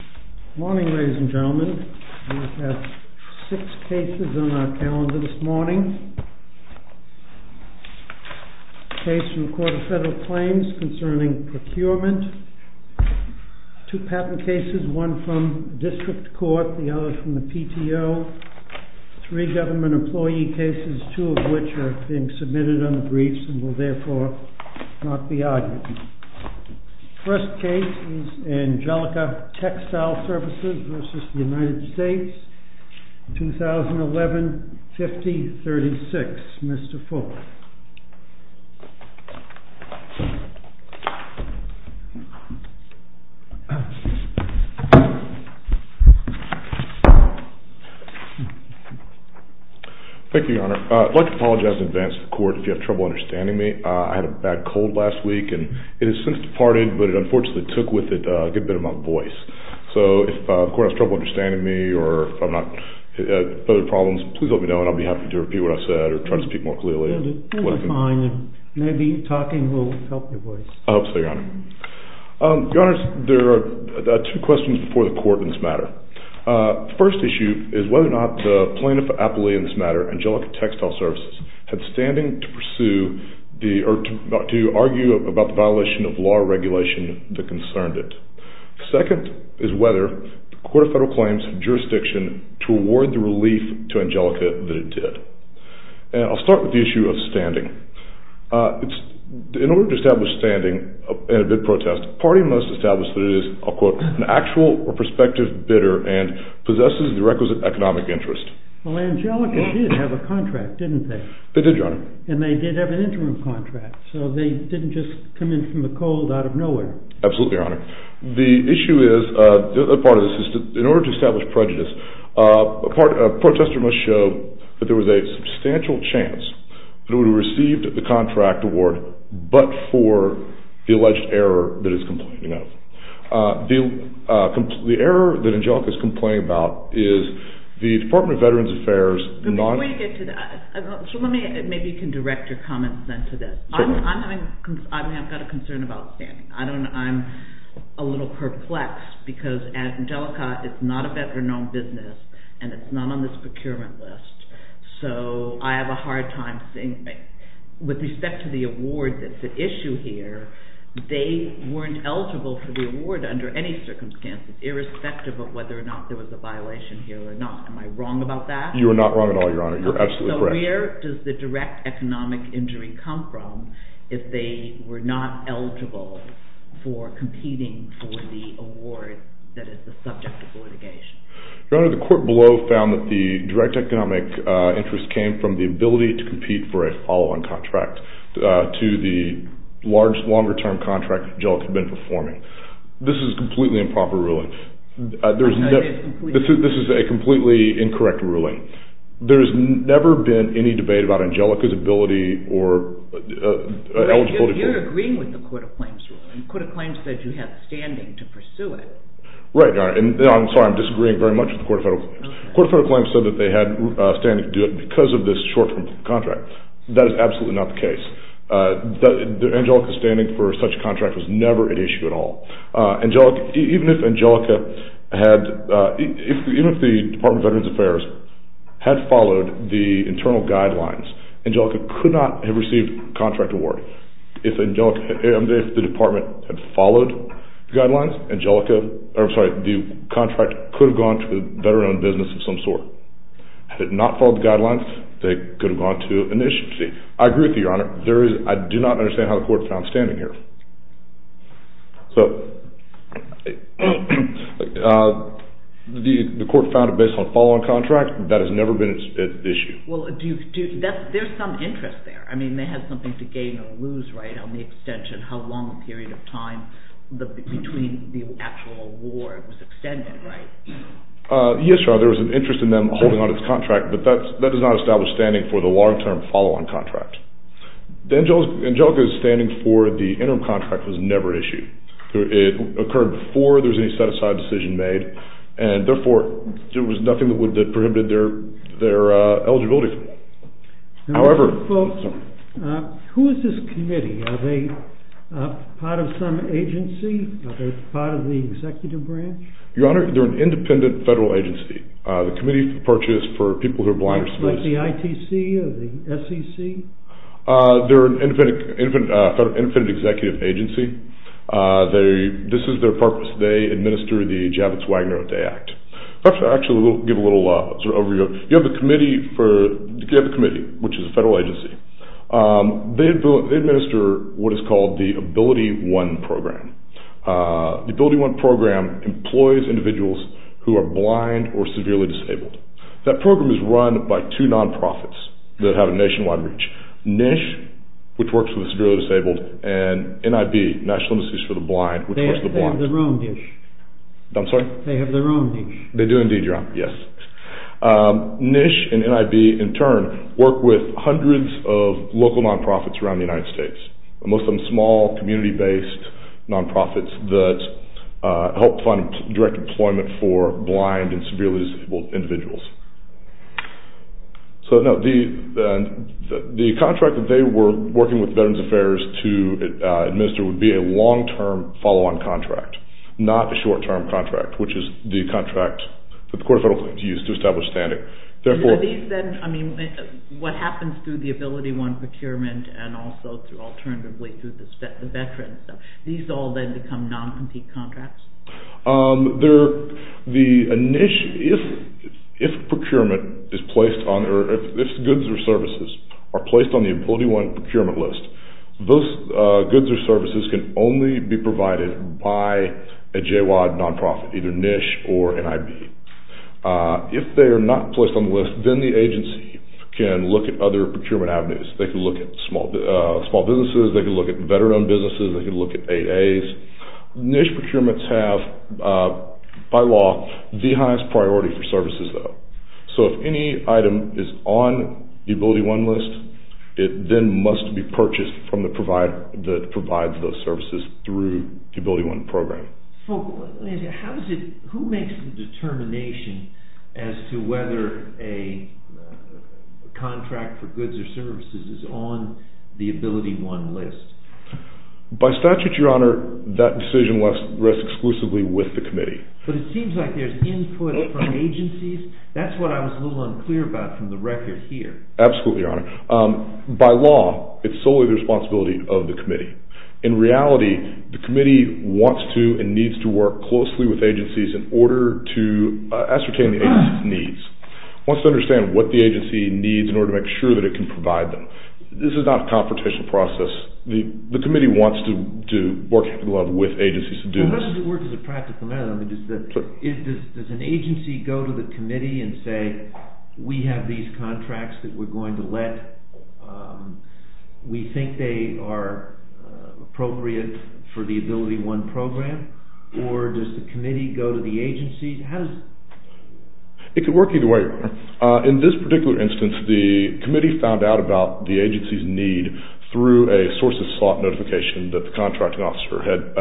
Good morning, ladies and gentlemen. We have six cases on our calendar this morning. A case from the Court of Federal Claims concerning procurement, two patent cases, one from the district court, the other from the PTO, three government employee cases, two of which are being submitted on the briefs and will therefore not be argued. First case is ANGELICA TEXTILE SERVICES v. United States, 2011-50-36, Mr. Fuller. Thank you, Your Honor. I'd like to apologize in advance to the court if you have trouble understanding me. I had a bad cold last week and it has since departed, but it unfortunately took with it a good bit of my voice. So if the court has trouble understanding me or if I'm not, further problems, please let me know and I'll be happy to repeat what I said or try to speak more clearly. No, that's fine. Maybe talking will help your voice. I hope so, Your Honor. Your Honors, there are two questions before the court in this matter. First issue is whether or not the plaintiff appellee in this matter, ANGELICA TEXTILE SERVICES, had standing to argue about the violation of law or regulation that concerned it. Second is whether the Court of Federal Claims jurisdiction to award the relief to ANGELICA that it did. And I'll start with the issue of standing. In order to establish standing in a bid protest, party must establish that it is, I'll quote, an actual or prospective bidder and possesses the requisite economic interest. Well, ANGELICA did have a contract, didn't they? They did, Your Honor. And they did have an interim contract. So they didn't just come in from the cold out of nowhere. Absolutely, Your Honor. The issue is, a part of this is, in order to establish prejudice, a protester must show that there was a substantial chance that it would have received the contract award but for the alleged error that it's complaining of. The error that ANGELICA is complaining about is the Department of Veterans Affairs not Before you get to that, maybe you can direct your comments then to this. I've got a concern about standing. I'm a little perplexed because ANGELICA is not a better known business. And it's not on this procurement list. So I have a hard time seeing things. With respect to the award that's at issue here, they weren't eligible for the award under any circumstances, irrespective of whether or not there was a violation here or not. Am I wrong about that? You are not wrong at all, Your Honor. You're absolutely correct. So where does the direct economic injury come from if they were not eligible for competing for the award that is the subject of litigation? Your Honor, the court below found that the direct economic interest came from the ability to compete for a follow-on contract to the larger, longer-term contract that ANGELICA had been performing. This is completely improper ruling. This is a completely incorrect ruling. There has never been any debate about ANGELICA's ability or eligibility for it. You're agreeing with the Court of Claims ruling. Court of Claims said you had standing to pursue it. Right, Your Honor. I'm sorry, I'm disagreeing very much with the Court of Federal Claims. Court of Federal Claims said that they had standing to do it because of this short-term contract. That is absolutely not the case. ANGELICA's standing for such a contract was never an issue at all. Even if the Department of Veterans Affairs had followed the internal guidelines, ANGELICA could not have received a contract award. If the department had followed the guidelines, the contract could have gone to a veteran-owned business of some sort. Had it not followed the guidelines, they could have gone to an agency. I agree with you, Your Honor. I do not understand how the Court found standing here. The Court found it based on a follow-on contract. That has never been an issue. Well, there's some interest there. I mean, they had something to gain or lose, right, on the extension, how long a period of time between the actual award was extended, right? Yes, Your Honor. There was an interest in them holding on to this contract, but that does not establish standing for the long-term follow-on contract. ANGELICA's standing for the interim contract was never an issue. It occurred before there was any set-aside decision made, and therefore, there was nothing that prohibited their eligibility for it. However, folks, who is this committee? Are they part of some agency? Are they part of the executive branch? Your Honor, they're an independent federal agency. The Committee for Purchase for People who are Blind or Disabled. Like the ITC or the SEC? They're an independent executive agency. This is their purpose. They administer the Javits-Wagner-O'Day Act. Perhaps I'll actually give a little sort of overview. You have a committee, which is a federal agency. They administer what is called the AbilityOne program. The AbilityOne program employs individuals who are blind or severely disabled. That program is run by two non-profits that have a nationwide reach. NISH, which works with the severely disabled, and NIB, National Institutes for the Blind, which works with the blind. They have their own NISH. I'm sorry? They have their own NISH. They do indeed, Your Honor, yes. NISH and NIB, in turn, work with hundreds of local non-profits around the United States. Most of them small, community-based non-profits that help fund direct employment for blind and severely disabled individuals. So, no, the contract that they were working with Veterans Affairs to administer would be a long-term follow-on contract, not a short-term contract, which is the contract that the Court of Federal Claims used to establish standing. Therefore- Are these then, I mean, what happens through the AbilityOne procurement and also through, alternatively, through the veterans, these all then become non-compete contracts? There, the, a NISH, if procurement is placed on, or if goods or services are placed on the AbilityOne procurement list, those goods or services can only be provided by a J-WAD non-profit, either NISH or NIB. If they are not placed on the list, then the agency can look at other procurement avenues. They can look at small businesses. They can look at veteran-owned businesses. They can look at AA's. NISH procurements have, by law, the highest priority for services, though. So if any item is on the AbilityOne list, it then must be purchased from the provider that provides those services through the AbilityOne program. Who makes the determination as to whether a contract for goods or services is on the AbilityOne list? By statute, your honor, that decision rests exclusively with the committee. But it seems like there's input from agencies. That's what I was a little unclear about from the record here. Absolutely, your honor. By law, it's solely the responsibility of the committee. In reality, the committee wants to and needs to work closely with agencies in order to ascertain the agency's needs. Wants to understand what the agency needs in order to make sure that it can provide them. This is not a competition process. The committee wants to work with agencies to do this. How does it work as a practical matter? Does an agency go to the committee and say, we have these contracts that we're going to let, we think they are appropriate for the AbilityOne program? Or does the committee go to the agency? How does it work? It can work either way, your honor. In this particular instance, the committee found out about the agency's need through a source of slot notification that the contracting officer had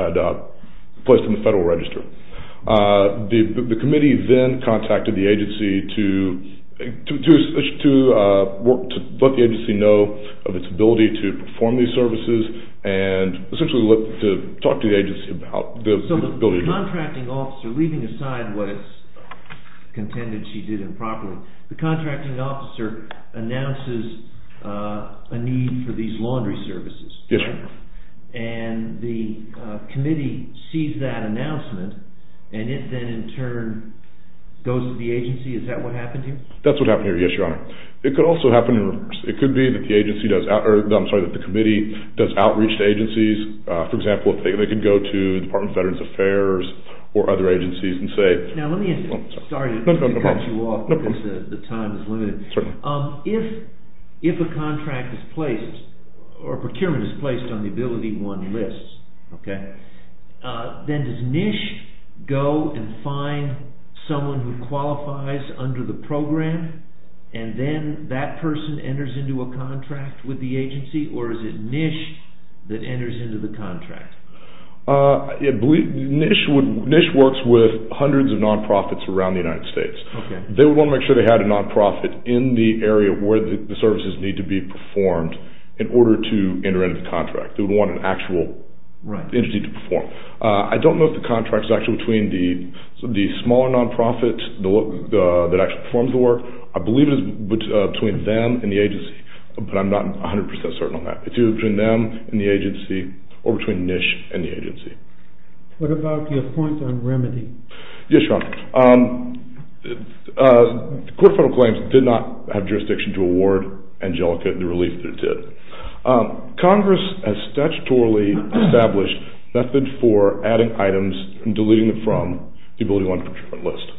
placed in the federal register. The committee then contacted the agency to let the agency know of its ability to perform these services, and essentially looked to talk to the agency about the ability of the agency. So the contracting officer, leaving aside what is contended she did improperly, the contracting officer announces a need for these laundry services. Yes, your honor. And the committee sees that announcement, and it then in turn goes to the agency. Is that what happened here? That's what happened here, yes, your honor. It could also happen in reverse. It could be that the agency does, I'm sorry, that the committee does outreach to agencies. For example, they could go to the Department of Veterans Affairs, or other agencies and say. Now let me, sorry to cut you off, because the time is limited. If a contract is placed, or procurement is placed on the ability one lists, then does NISH go and find someone who qualifies under the program, and then that person enters into a contract with the agency, or is it NISH that enters into the contract? NISH works with hundreds of non-profits around the United States. They wanna make sure they had a non-profit in the area where the services need to be performed in order to enter into the contract. They would want an actual entity to perform. I don't know if the contract's actually between the smaller non-profits that actually performs the work. I believe it is between them and the agency, but I'm not 100% certain on that. It's either between them and the agency, What about your point on remedy? Yes, your honor. The court of federal claims did not have jurisdiction to award Angelica the relief that it did. Congress has statutorily established method for adding items and deleting them from the ability one procurement list.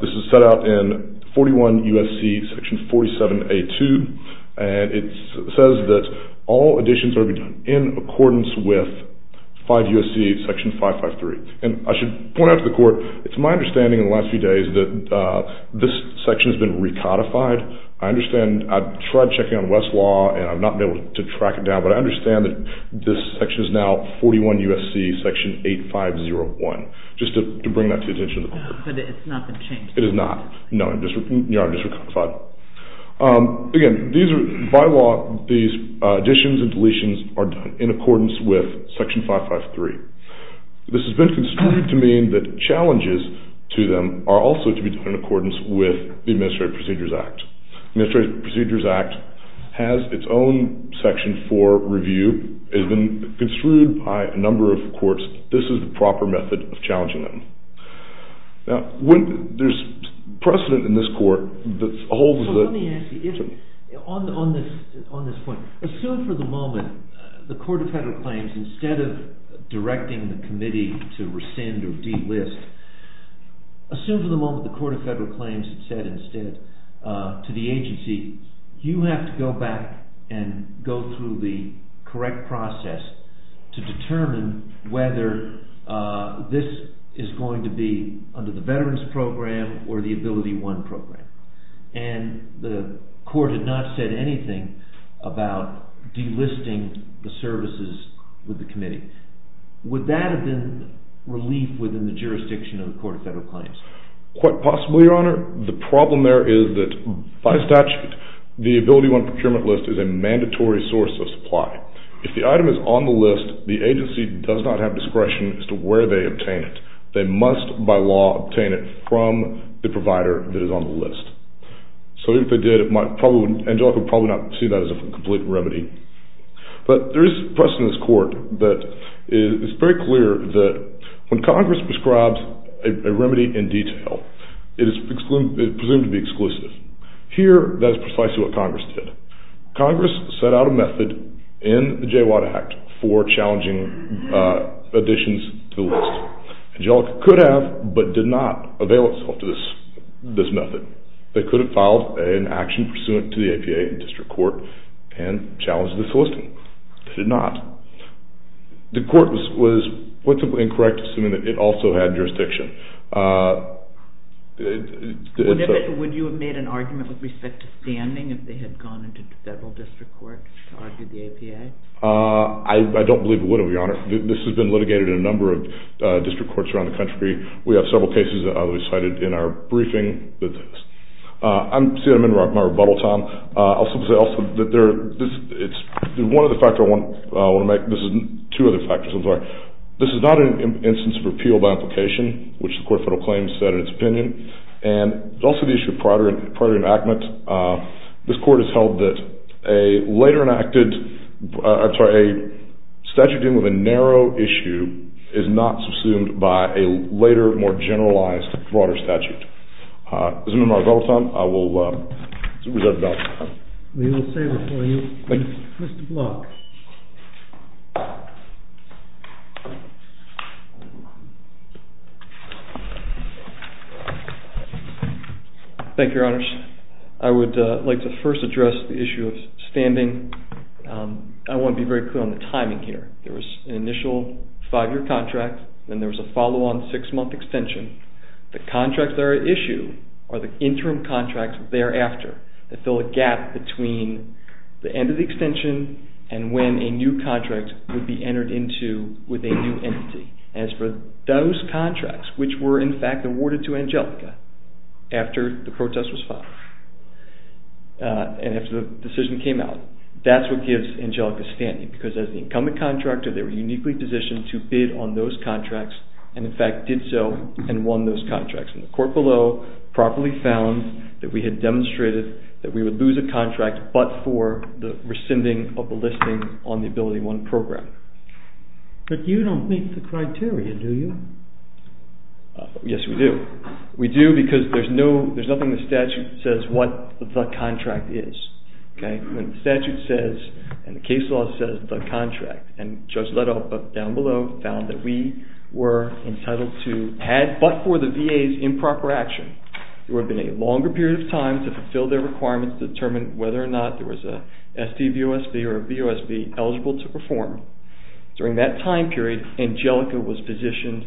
This is set out in 41 U.S.C. section 47A2, and it says that all additions are to be done in accordance with 5 U.S.C. section 553, and I should point out to the court, it's my understanding in the last few days that this section has been recodified. I understand, I've tried checking on Westlaw, and I've not been able to track it down, but I understand that this section is now 41 U.S.C. section 8501, just to bring that to the attention of the court. But it's not been changed. It is not. No, your honor, it's recodified. Again, by law, these additions and deletions are done in accordance with section 553. This has been construed to mean that challenges to them are also to be done in accordance with the Administrative Procedures Act. The Administrative Procedures Act has its own section for review, has been construed by a number of courts. This is the proper method of challenging them. Now, when there's precedent in this court that's a hold of the- So let me ask you, on this point, assume for the moment the court of federal claims, instead of directing the committee to rescind or delist, assume for the moment the court of federal claims had said instead to the agency, you have to go back and go through the correct process to determine whether this is going to be under the Veterans Program or the AbilityOne Program. And the court had not said anything about delisting the services with the committee. Would that have been relief within the jurisdiction of the court of federal claims? Quite possibly, Your Honor. The problem there is that by statute, the AbilityOne procurement list is a mandatory source of supply. If the item is on the list, the agency does not have discretion as to where they obtain it. They must, by law, obtain it from the provider that is on the list. So even if they did, it might probably, Angelica would probably not see that as a complete remedy. But there is press in this court that is very clear that when Congress prescribes a remedy in detail, it is presumed to be exclusive. Here, that is precisely what Congress did. Congress set out a method in the Jaywatt Act for challenging additions to the list. Angelica could have but did not avail itself to this method. They could have filed an action pursuant to the APA in district court and challenged the soliciting. They did not. The court was quite simply incorrect, assuming that it also had jurisdiction. Would you have made an argument with respect to standing if they had gone into federal district court to argue the APA? I don't believe it would have, Your Honor. This has been litigated in a number of district courts around the country. We have several cases that we cited in our briefing. I'm seeing them in my rebuttal time. I'll simply say also that one of the factors I want to make, this is two other factors, I'm sorry. This is not an instance of repeal by implication, which the Court of Federal Claims said in its opinion. And it's also the issue of prior enactment. This court has held that a later enacted, I'm sorry, a statute dealing with a narrow issue is not subsumed by a later, more generalized, broader statute. This has been my rebuttal time. I will reserve the balance. We will save it for you. Mr. Block. Thank you, Your Honors. I would like to first address the issue of standing. I want to be very clear on the timing here. There was an initial five-year contract, then there was a follow-on six-month extension. The contracts that are at issue are the interim contracts thereafter that fill a gap between the end of the extension and when a new contract would be entered into with a new entity. As for those contracts which were in fact awarded to Angelica after the protest was filed, and after the decision came out, that's what gives Angelica standing because as the incumbent contractor, they were uniquely positioned to bid on those contracts and in fact did so and won those contracts. And the court below properly found that we had demonstrated that we would lose a contract but for the rescinding of a listing on the AbilityOne program. But you don't meet the criteria, do you? Yes, we do. We do because there's nothing in the statute that says what the contract is, okay? When the statute says and the case law says the contract and Judge Leto down below found that we were entitled to add but for the VA's improper action, there would have been a longer period of time to fulfill their requirements to determine whether or not there was a SDVOSB or a VOSB eligible to perform. During that time period, Angelica was positioned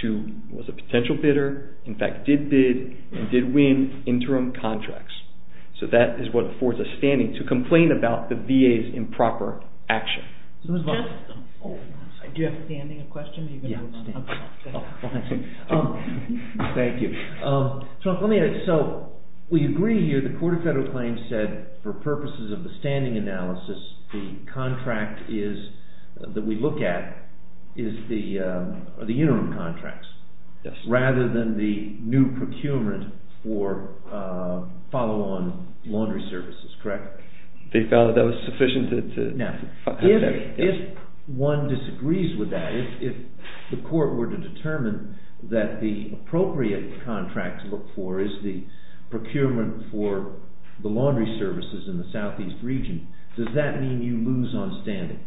to, was a potential bidder, in fact did bid and did win interim contracts. So that is what affords us standing to complain about the VA's improper action. Jeff, do you have a standing question? Yeah, I'm standing. Well, thank you. Thank you. Chuck, let me ask, so we agree here, the Court of Federal Claims said for purposes of the standing analysis, the contract that we look at is the interim contracts rather than the new procurement for follow-on laundry services, correct? They felt that was sufficient to... Now, if one disagrees with that, if the court were to determine that the appropriate contract to look for is the procurement for the laundry services in the Southeast region, does that mean you lose on standing?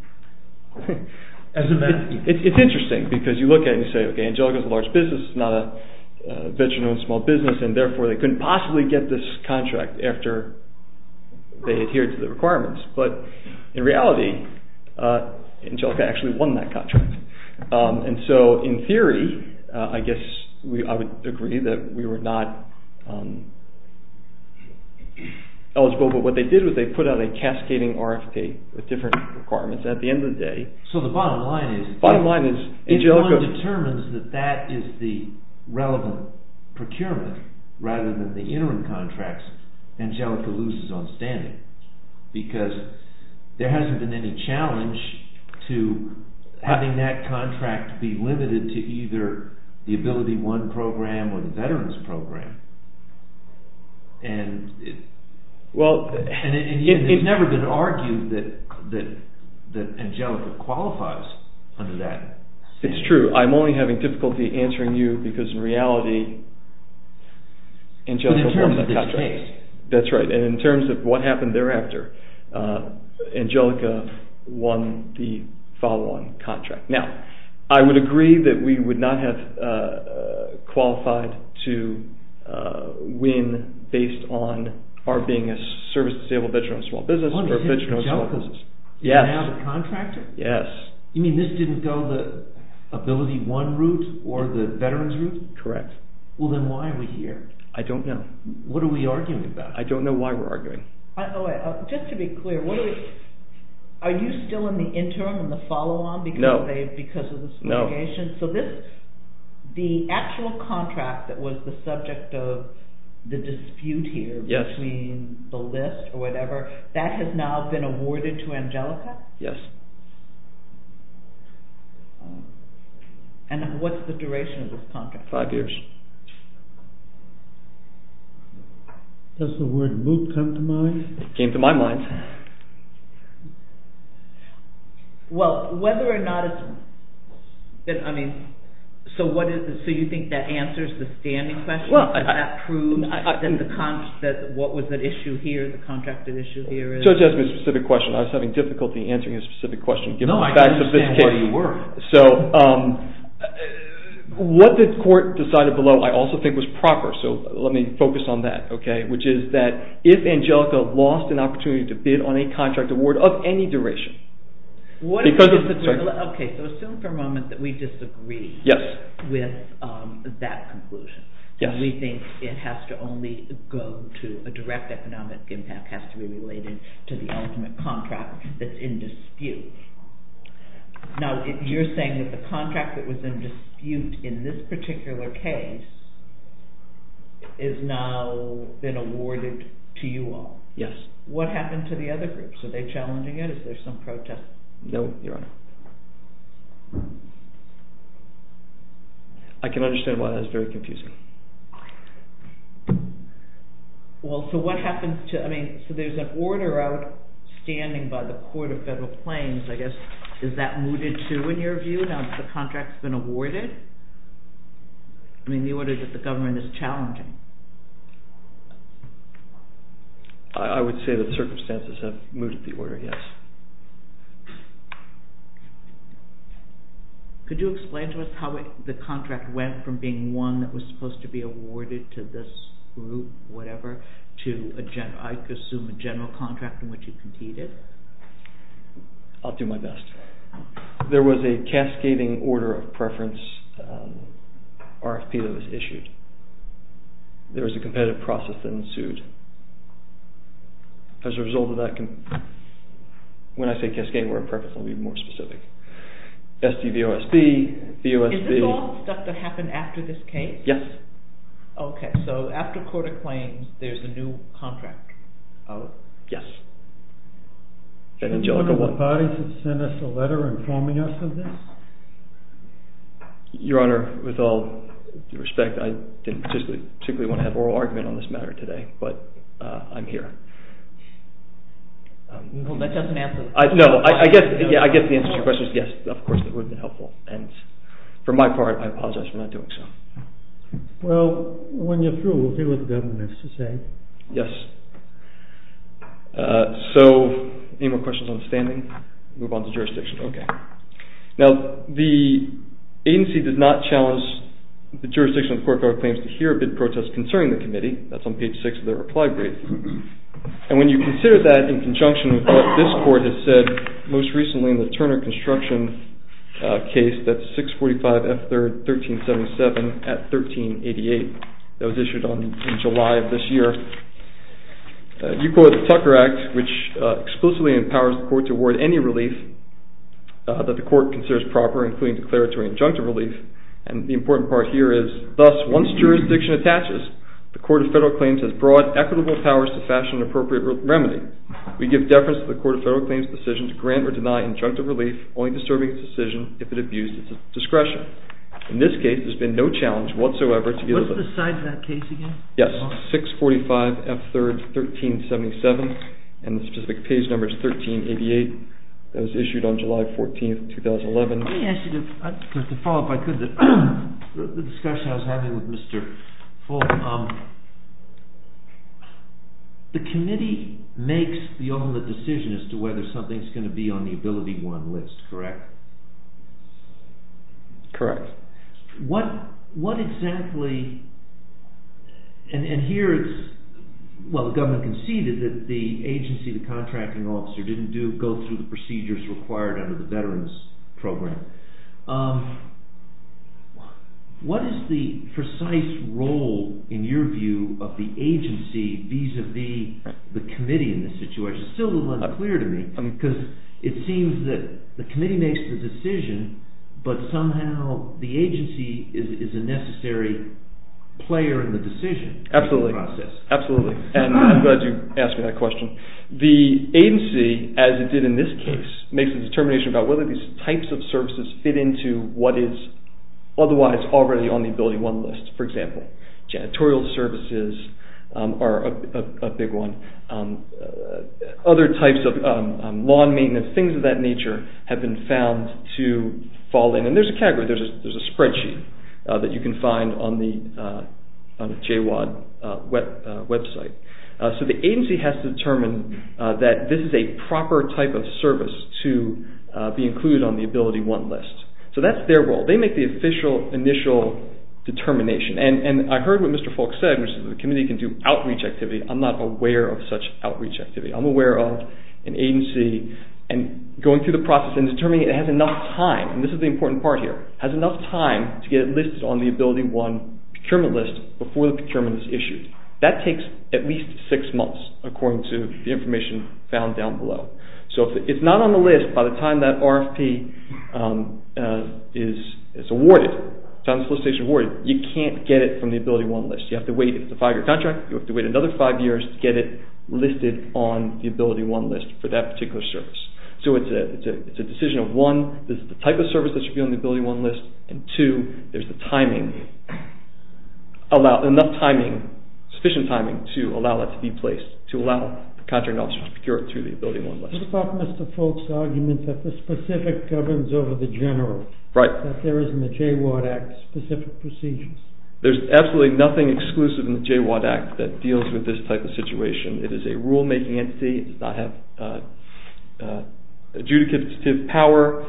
As a matter of fact... It's interesting because you look at it and you say, okay, Angelica's a large business, it's not a veteran-owned small business and therefore they couldn't possibly get this contract after they adhered to the requirements. But in reality, Angelica actually won that contract. And so in theory, I guess I would agree that we were not eligible, but what they did was they put out a cascading RFK with different requirements at the end of the day. So the bottom line is... Bottom line is Angelica... If one determines that that is the relevant procurement rather than the interim contracts, Angelica loses on standing because there hasn't been any challenge to having that contract be limited to either the AbilityOne program or the veterans program. And it's never been argued that Angelica qualifies under that. It's true. I'm only having difficulty answering you because in reality, Angelica won that contract. But in terms of this case. That's right. And in terms of what happened thereafter, Angelica won the follow-on contract. Now, I would agree that we would not have qualified to win based on our being a service-disabled veteran-owned small business or a veteran-owned small business. Yes. You don't have a contractor? Yes. You mean this didn't go the AbilityOne route or the veterans route? Correct. Well, then why are we here? I don't know. What are we arguing about? I don't know why we're arguing. Just to be clear, are you still in the interim and the follow-on because of this litigation? So the actual contract that was the subject of the dispute here between the list or whatever, that has now been awarded to Angelica? Yes. And what's the duration of this contract? Five years. Does the word move come to mind? It came to my mind. Well, whether or not it's... I mean, so you think that answers the standing question? Well, I... Does that prove that what was at issue here, the contracted issue here is... So it's asking a specific question. I was having difficulty answering a specific question given the facts of this case. No, I understand where you were. So, what did court decide about this case? I also think it was proper. So let me focus on that, okay? Which is that if Angelica lost an opportunity to bid on a contract award of any duration... Okay, so assume for a moment that we disagree with that conclusion. We think it has to only go to a direct economic impact, has to be related to the ultimate contract that's in dispute. Now, if you're saying that the contract that was in dispute in this particular case has now been awarded to you all. Yes. What happened to the other groups? Are they challenging it? Is there some protest? No, Your Honor. I can understand why that's very confusing. Well, so what happens to... I mean, so there's an order out standing by the Court of Federal Claims, I guess, is that mooted too in your view? Now that the contract's been awarded? I mean, the order that the government is challenging. I would say that the circumstances have mooted the order, yes. Could you explain to us how the contract went from being one that was supposed to be awarded to this group, whatever, to, I assume, a general contract in which you competed? I'll do my best. There was a cascading order of preference RFP that was issued. There was a competitive process that ensued. As a result of that... When I say cascading order of preference, I'll be more specific. SDVOSB, VOSB... Is this all stuff that happened after this case? Yes. Okay, so after Court of Claims, there's a new contract? Yes. Do you remember the parties that sent us a letter informing us of this? Your Honor, with all due respect, I didn't particularly want to have an oral argument on this matter today, but I'm here. Well, that doesn't answer the question. No, I get the answer to your question. Yes, of course, that would have been helpful. For my part, I apologize for not doing so. Well, when you're through, we'll see what the government has to say. Yes. So, any more questions on the standing? Move on to jurisdiction. Okay. Now, the agency does not challenge the jurisdiction of the Court of Claims to hear a bid protest concerning the committee. That's on page 6 of the reply brief. And when you consider that in conjunction with what this Court has said, most recently in the Turner Construction case, that's 645 F3rd 1377 at 1388 that was issued in July of this year, you quote the Tucker Act, which exclusively empowers the Court to award any relief that the Court considers proper, including declaratory injunctive relief. And the important part here is, thus, once jurisdiction attaches, the Court of Federal Claims has broad, equitable powers to fashion an appropriate remedy. We give deference to the Court of Federal Claims' decision to grant or deny injunctive relief, only disturbing its decision if it abused its discretion. In this case, there's been no challenge whatsoever to give the... What's the size of that case again? Yes, 645 F3rd 1377, and the specific page number is 1388, that was issued on July 14th, 2011. Let me ask you, to follow up, if I could, the discussion I was having with Mr. Fulton, the committee makes the ultimate decision as to whether something's going to be on the Ability One list, correct? Correct. What exactly... And here it's... Well, the government conceded that the agency, the contracting officer, didn't go through the procedures required under the Veterans Program. What is the precise role, in your view, of the agency vis-à-vis the committee in this situation? It's still a little unclear to me, because it seems that the committee makes the decision, but somehow the agency is a necessary player in the decision process. Absolutely. And I'm glad you asked me that question. The agency, as it did in this case, makes a determination about whether these types of services fit into what is otherwise already on the Ability One list. For example, janitorial services are a big one. Other types of lawn maintenance, things of that nature, have been found to fall in. And there's a category, there's a spreadsheet that you can find on the J-WAD website. So the agency has to determine that this is a proper type of service to be included on the Ability One list. So that's their role. They make the official initial determination. And I heard what Mr. Folk said, which is the committee can do outreach activity. I'm not aware of such outreach activity. I'm aware of an agency going through the process and determining it has enough time, and this is the important part here, has enough time to get it listed on the Ability One procurement list before the procurement is issued. That takes at least six months according to the information found down below. So if it's not on the list by the time that RFP is awarded, by the time the solicitation is awarded, you can't get it from the Ability One list. You have to wait. It's a five-year contract. You have to wait another five years to get it listed on the Ability One list for that particular service. So it's a decision of, one, this is the type of service that should be on the Ability One list, and two, there's the timing, enough timing, sufficient timing to allow it to be placed, to allow the contracting officer to procure it through the Ability One list. What about Mr. Folk's argument that the specific governs over the general? Right. That there isn't a JWAD Act specific procedure? There's absolutely nothing exclusive in the JWAD Act that deals with this type of situation. It is a rule-making entity. It does not have adjudicative power.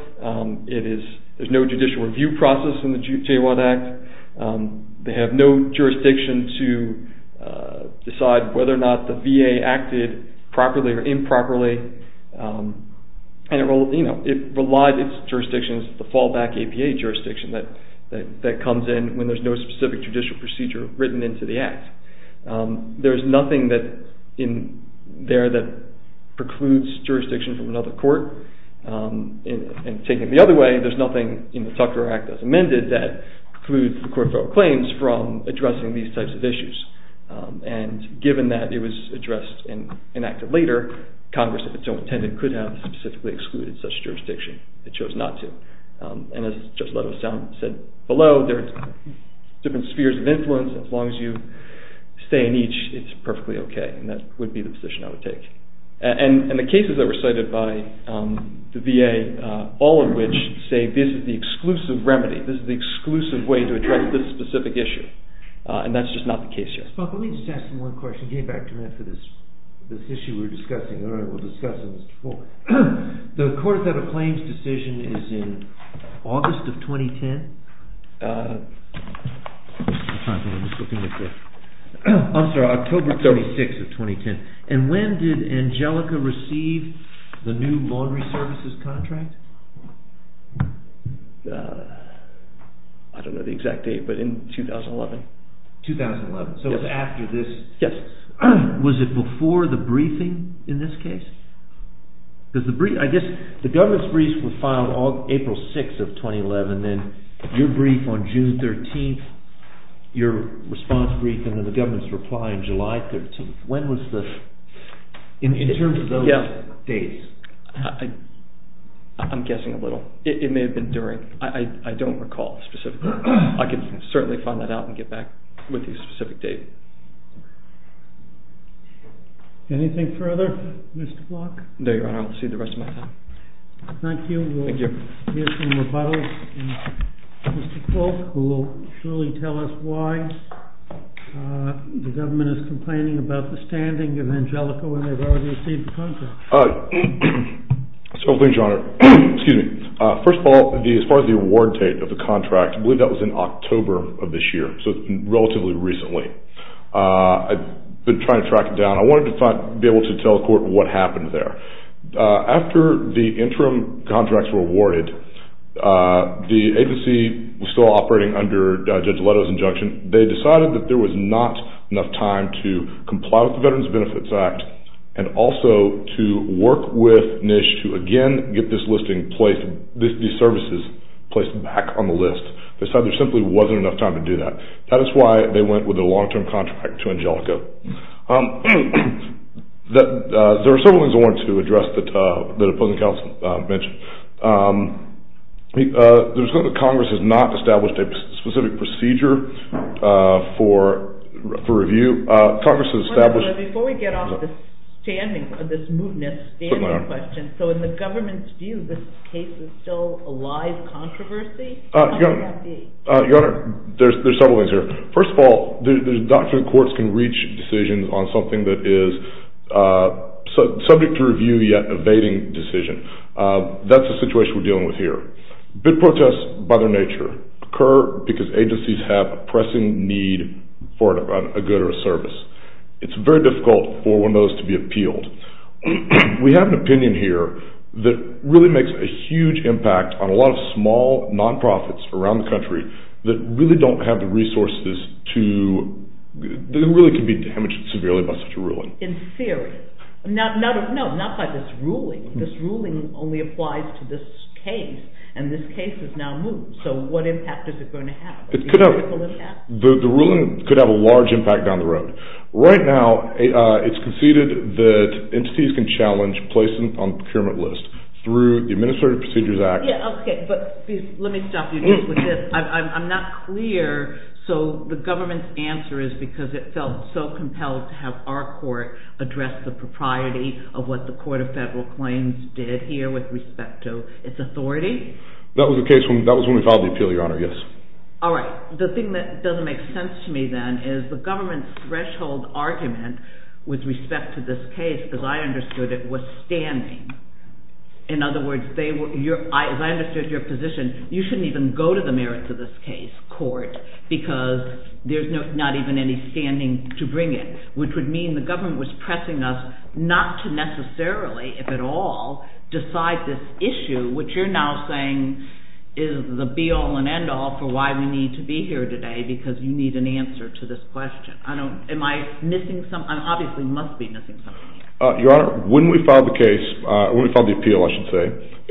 It is, there's no judicial review process in the JWAD Act. They have no jurisdiction to decide whether or not the VA acted properly or improperly. And it, you know, it relies, its jurisdiction is the fallback APA jurisdiction that comes in when there's no specific judicial procedure written into the Act. There's nothing that, there that precludes jurisdiction from another court. And taking it the other way, there's nothing in the Tucker Act that's amended that precludes the Court of Federal Claims from addressing these types of issues. And given that it was addressed and enacted later, Congress, if it so intended, could have specifically excluded such jurisdiction. It chose not to. And as Judge Leto said below, there's different spheres of influence. As long as you stay in each, it's perfectly okay. And that would be the position I would take. And the cases that were cited by the VA, all of which say this is the exclusive remedy, this is the exclusive way to address this specific issue. And that's just not the case here. Spock, let me just ask you one question. Give me back two minutes for this issue we're discussing. All right, we'll discuss it, Mr. Falk. The Court of Federal Claims decision is in August of 2010? I'm sorry, October 36th of 2010. And when did Angelica receive the new laundry services contract? I don't know the exact date, but in 2011. 2011. So it's after this. Yes. Was it before the briefing in this case? I guess the government's brief was filed April 6th of 2011, and then your brief on June 13th, your response brief, and then the government's reply on July 13th. When was this? In terms of those dates. I'm guessing a little. It may have been during. I don't recall specifically. I can certainly find that out and get back with you a specific date. Anything further, Mr. Falk? No, Your Honor. I'll see you the rest of my time. Thank you. We'll hear some rebuttals from Mr. Falk, who will surely tell us why the government is complaining about the standing of Angelica when they've already received the contract. So, please, Your Honor. Excuse me. First of all, as far as the award date of the contract, I believe that was in October of this year, so relatively recently. I've been trying to track it down. I wanted to be able to tell the court what happened there. After the interim contracts were awarded, the agency was still operating under Judge Leto's injunction. They decided that there was not enough time to comply with the Veterans Benefits Act and also to work with NISH to again get these services placed back on the list. They said there simply wasn't enough time to do that. That is why they went with a long-term contract to Angelica. There were several things I wanted to address that the opposing counsel mentioned. There's something that Congress has not established a specific procedure for review. Congress has established... Before we get off this standing, this mootness standing question, so in the government's view, this case is still a live controversy? Your Honor, there's several things here. First of all, the doctrine of the courts can reach decisions on something that is subject to review yet evading decision. That's the situation we're dealing with here. Bid protests, by their nature, occur because agencies have a pressing need for a good or a service. It's very difficult for one of those to be appealed. We have an opinion here that really makes a huge impact on a lot of small non-profits around the country that really don't have the resources to... that really can be damaged severely by such a ruling. In theory. No, not by this ruling. This ruling only applies to this case, and this case is now moot. So what impact is it going to have? The ruling could have a large impact down the road. Right now, it's conceded that entities can challenge placement on the procurement list through the Administrative Procedures Act... Yeah, okay, but let me stop you just with this. I'm not clear. So the government's answer is because it felt so compelled to have our court address the propriety of what the Court of Federal Claims did here with respect to its authority? That was when we filed the appeal, Your Honor, yes. All right, the thing that doesn't make sense to me then is the government's threshold argument with respect to this case, as I understood it, was standing. In other words, as I understood your position, you shouldn't even go to the merits of this case, court, because there's not even any standing to bring it, which would mean the government was pressing us not to necessarily, if at all, decide this issue, which you're now saying is the be-all and end-all for why we need to be here today, because you need an answer to this question. Am I missing something? I obviously must be missing something. Your Honor, when we filed the case, when we filed the appeal, I should say,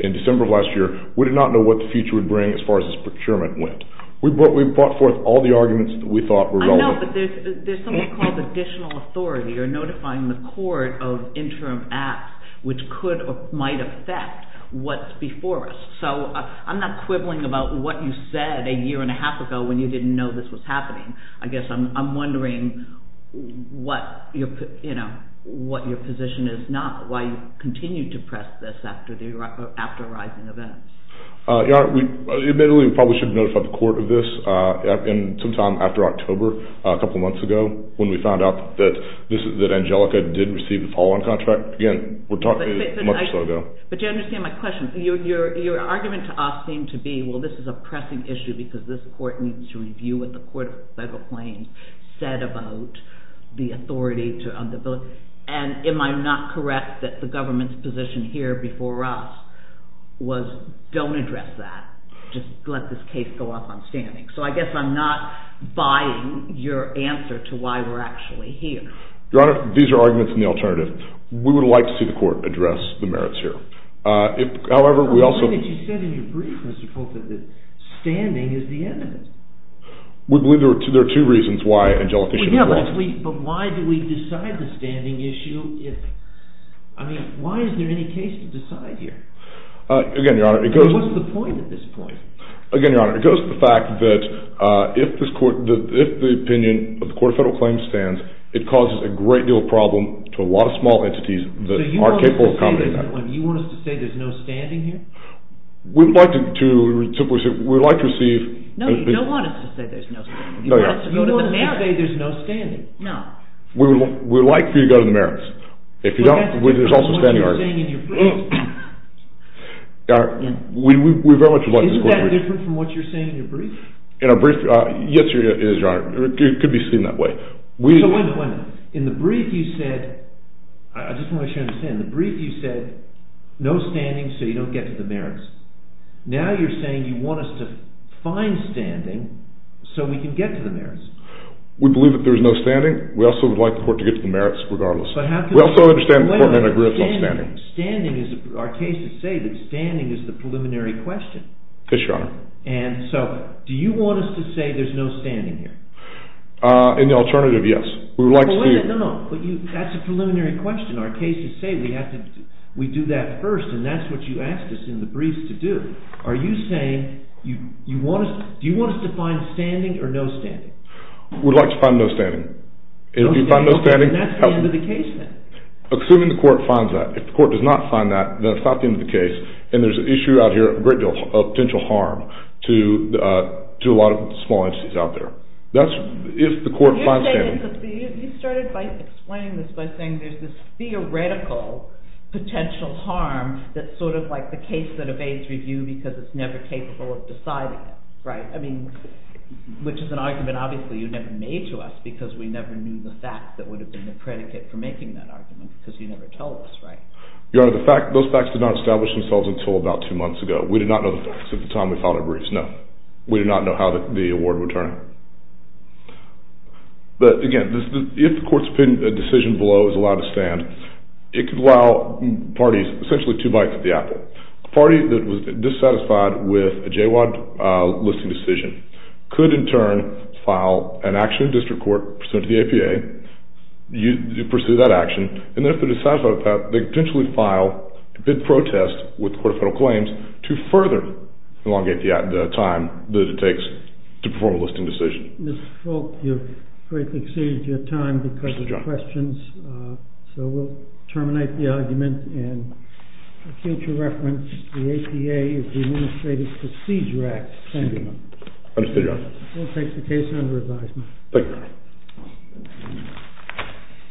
in December of last year, we did not know what the future would bring as far as this procurement went. We brought forth all the arguments that we thought were relevant. But there's something called additional authority, or notifying the court of interim acts, which could or might affect what's before us. So I'm not quibbling about what you said a year and a half ago when you didn't know this was happening. I guess I'm wondering what your position is now, why you continue to press this after the rising events. Your Honor, admittedly, we probably should notify the court of this sometime after October, a couple months ago, when we found out that Angelica did receive the Pauline contract. Again, we're talking a month or so ago. But do you understand my question? Your argument to us seemed to be, well, this is a pressing issue because this court needs to review what the court of federal claims said about the authority on the bill. And am I not correct that the government's position here before us was don't address that, just let this case go off on standing? So I guess I'm not buying your answer to why we're actually here. Your Honor, these are arguments in the alternative. We would like to see the court address the merits here. However, we also... I believe that you said in your brief, Mr. Pope, that standing is the evidence. We believe there are two reasons why Angelica should have lost. But why do we decide the standing issue? I mean, why is there any case to decide here? Again, Your Honor, it goes... What's the point at this point? Again, Your Honor, it goes to the fact that if this court, if the opinion of the court of federal claims stands, it causes a great deal of problem to a lot of small entities that are capable of accommodating that. So you want us to say there's no standing here? We'd like to receive... No, you don't want us to say there's no standing. You want us to go to the merits. You want us to say there's no standing. We would like for you to go to the merits. If you don't, there's also standing arguments. What you're saying in your brief... Isn't that different from what you're saying in your brief? In our brief, yes, it is, Your Honor. It could be seen that way. So wait a minute, wait a minute. In the brief, you said... I just want to make sure I understand. In the brief, you said, no standing so you don't get to the merits. Now you're saying you want us to find standing so we can get to the merits. We believe that there's no standing. We also would like the court to get to the merits regardless. We also understand the court may have an agreement on standing. Standing is... Our cases say that standing is the preliminary question. Yes, Your Honor. And so do you want us to say there's no standing here? In the alternative, yes. We would like to see... No, no, no. That's a preliminary question. Our cases say we have to... We do that first, and that's what you asked us in the briefs to do. Are you saying you want us... Do you want us to find standing or no standing? We'd like to find no standing. If you find no standing... Okay, okay. That's the end of the case then. Assuming the court finds that. If the court does not find that, then it's not the end of the case, and there's an issue out here, a great deal of potential harm to a lot of small entities out there. That's if the court finds standing. You started by explaining this by saying there's this theoretical potential harm that's sort of like the case that evades review because it's never capable of deciding it, right? I mean, which is an argument, obviously, you never made to us because we never knew the fact that would have been the predicate for making that argument because you never told us, right? Your Honor, those facts did not establish themselves until about two months ago. We did not know the facts at the time we filed our briefs, no. We did not know how the award would turn. But again, if the court's opinion, the decision below is allowed to stand, it could allow parties essentially two bites at the apple. A party that was dissatisfied with a JWAD listing decision could in turn file an action in district court pursuant to the APA, you pursue that action, and if they're dissatisfied with that, they could potentially file a bid protest with the Court of Federal Claims to further elongate the time that it takes to perform a listing decision. Mr. Folt, you've greatly exceeded your time because of your questions, so we'll terminate the argument and for future reference, the APA is the Administrative Procedure Act. Thank you, Your Honor. We'll take the case under advisement. Thank you, Your Honor. Thank you.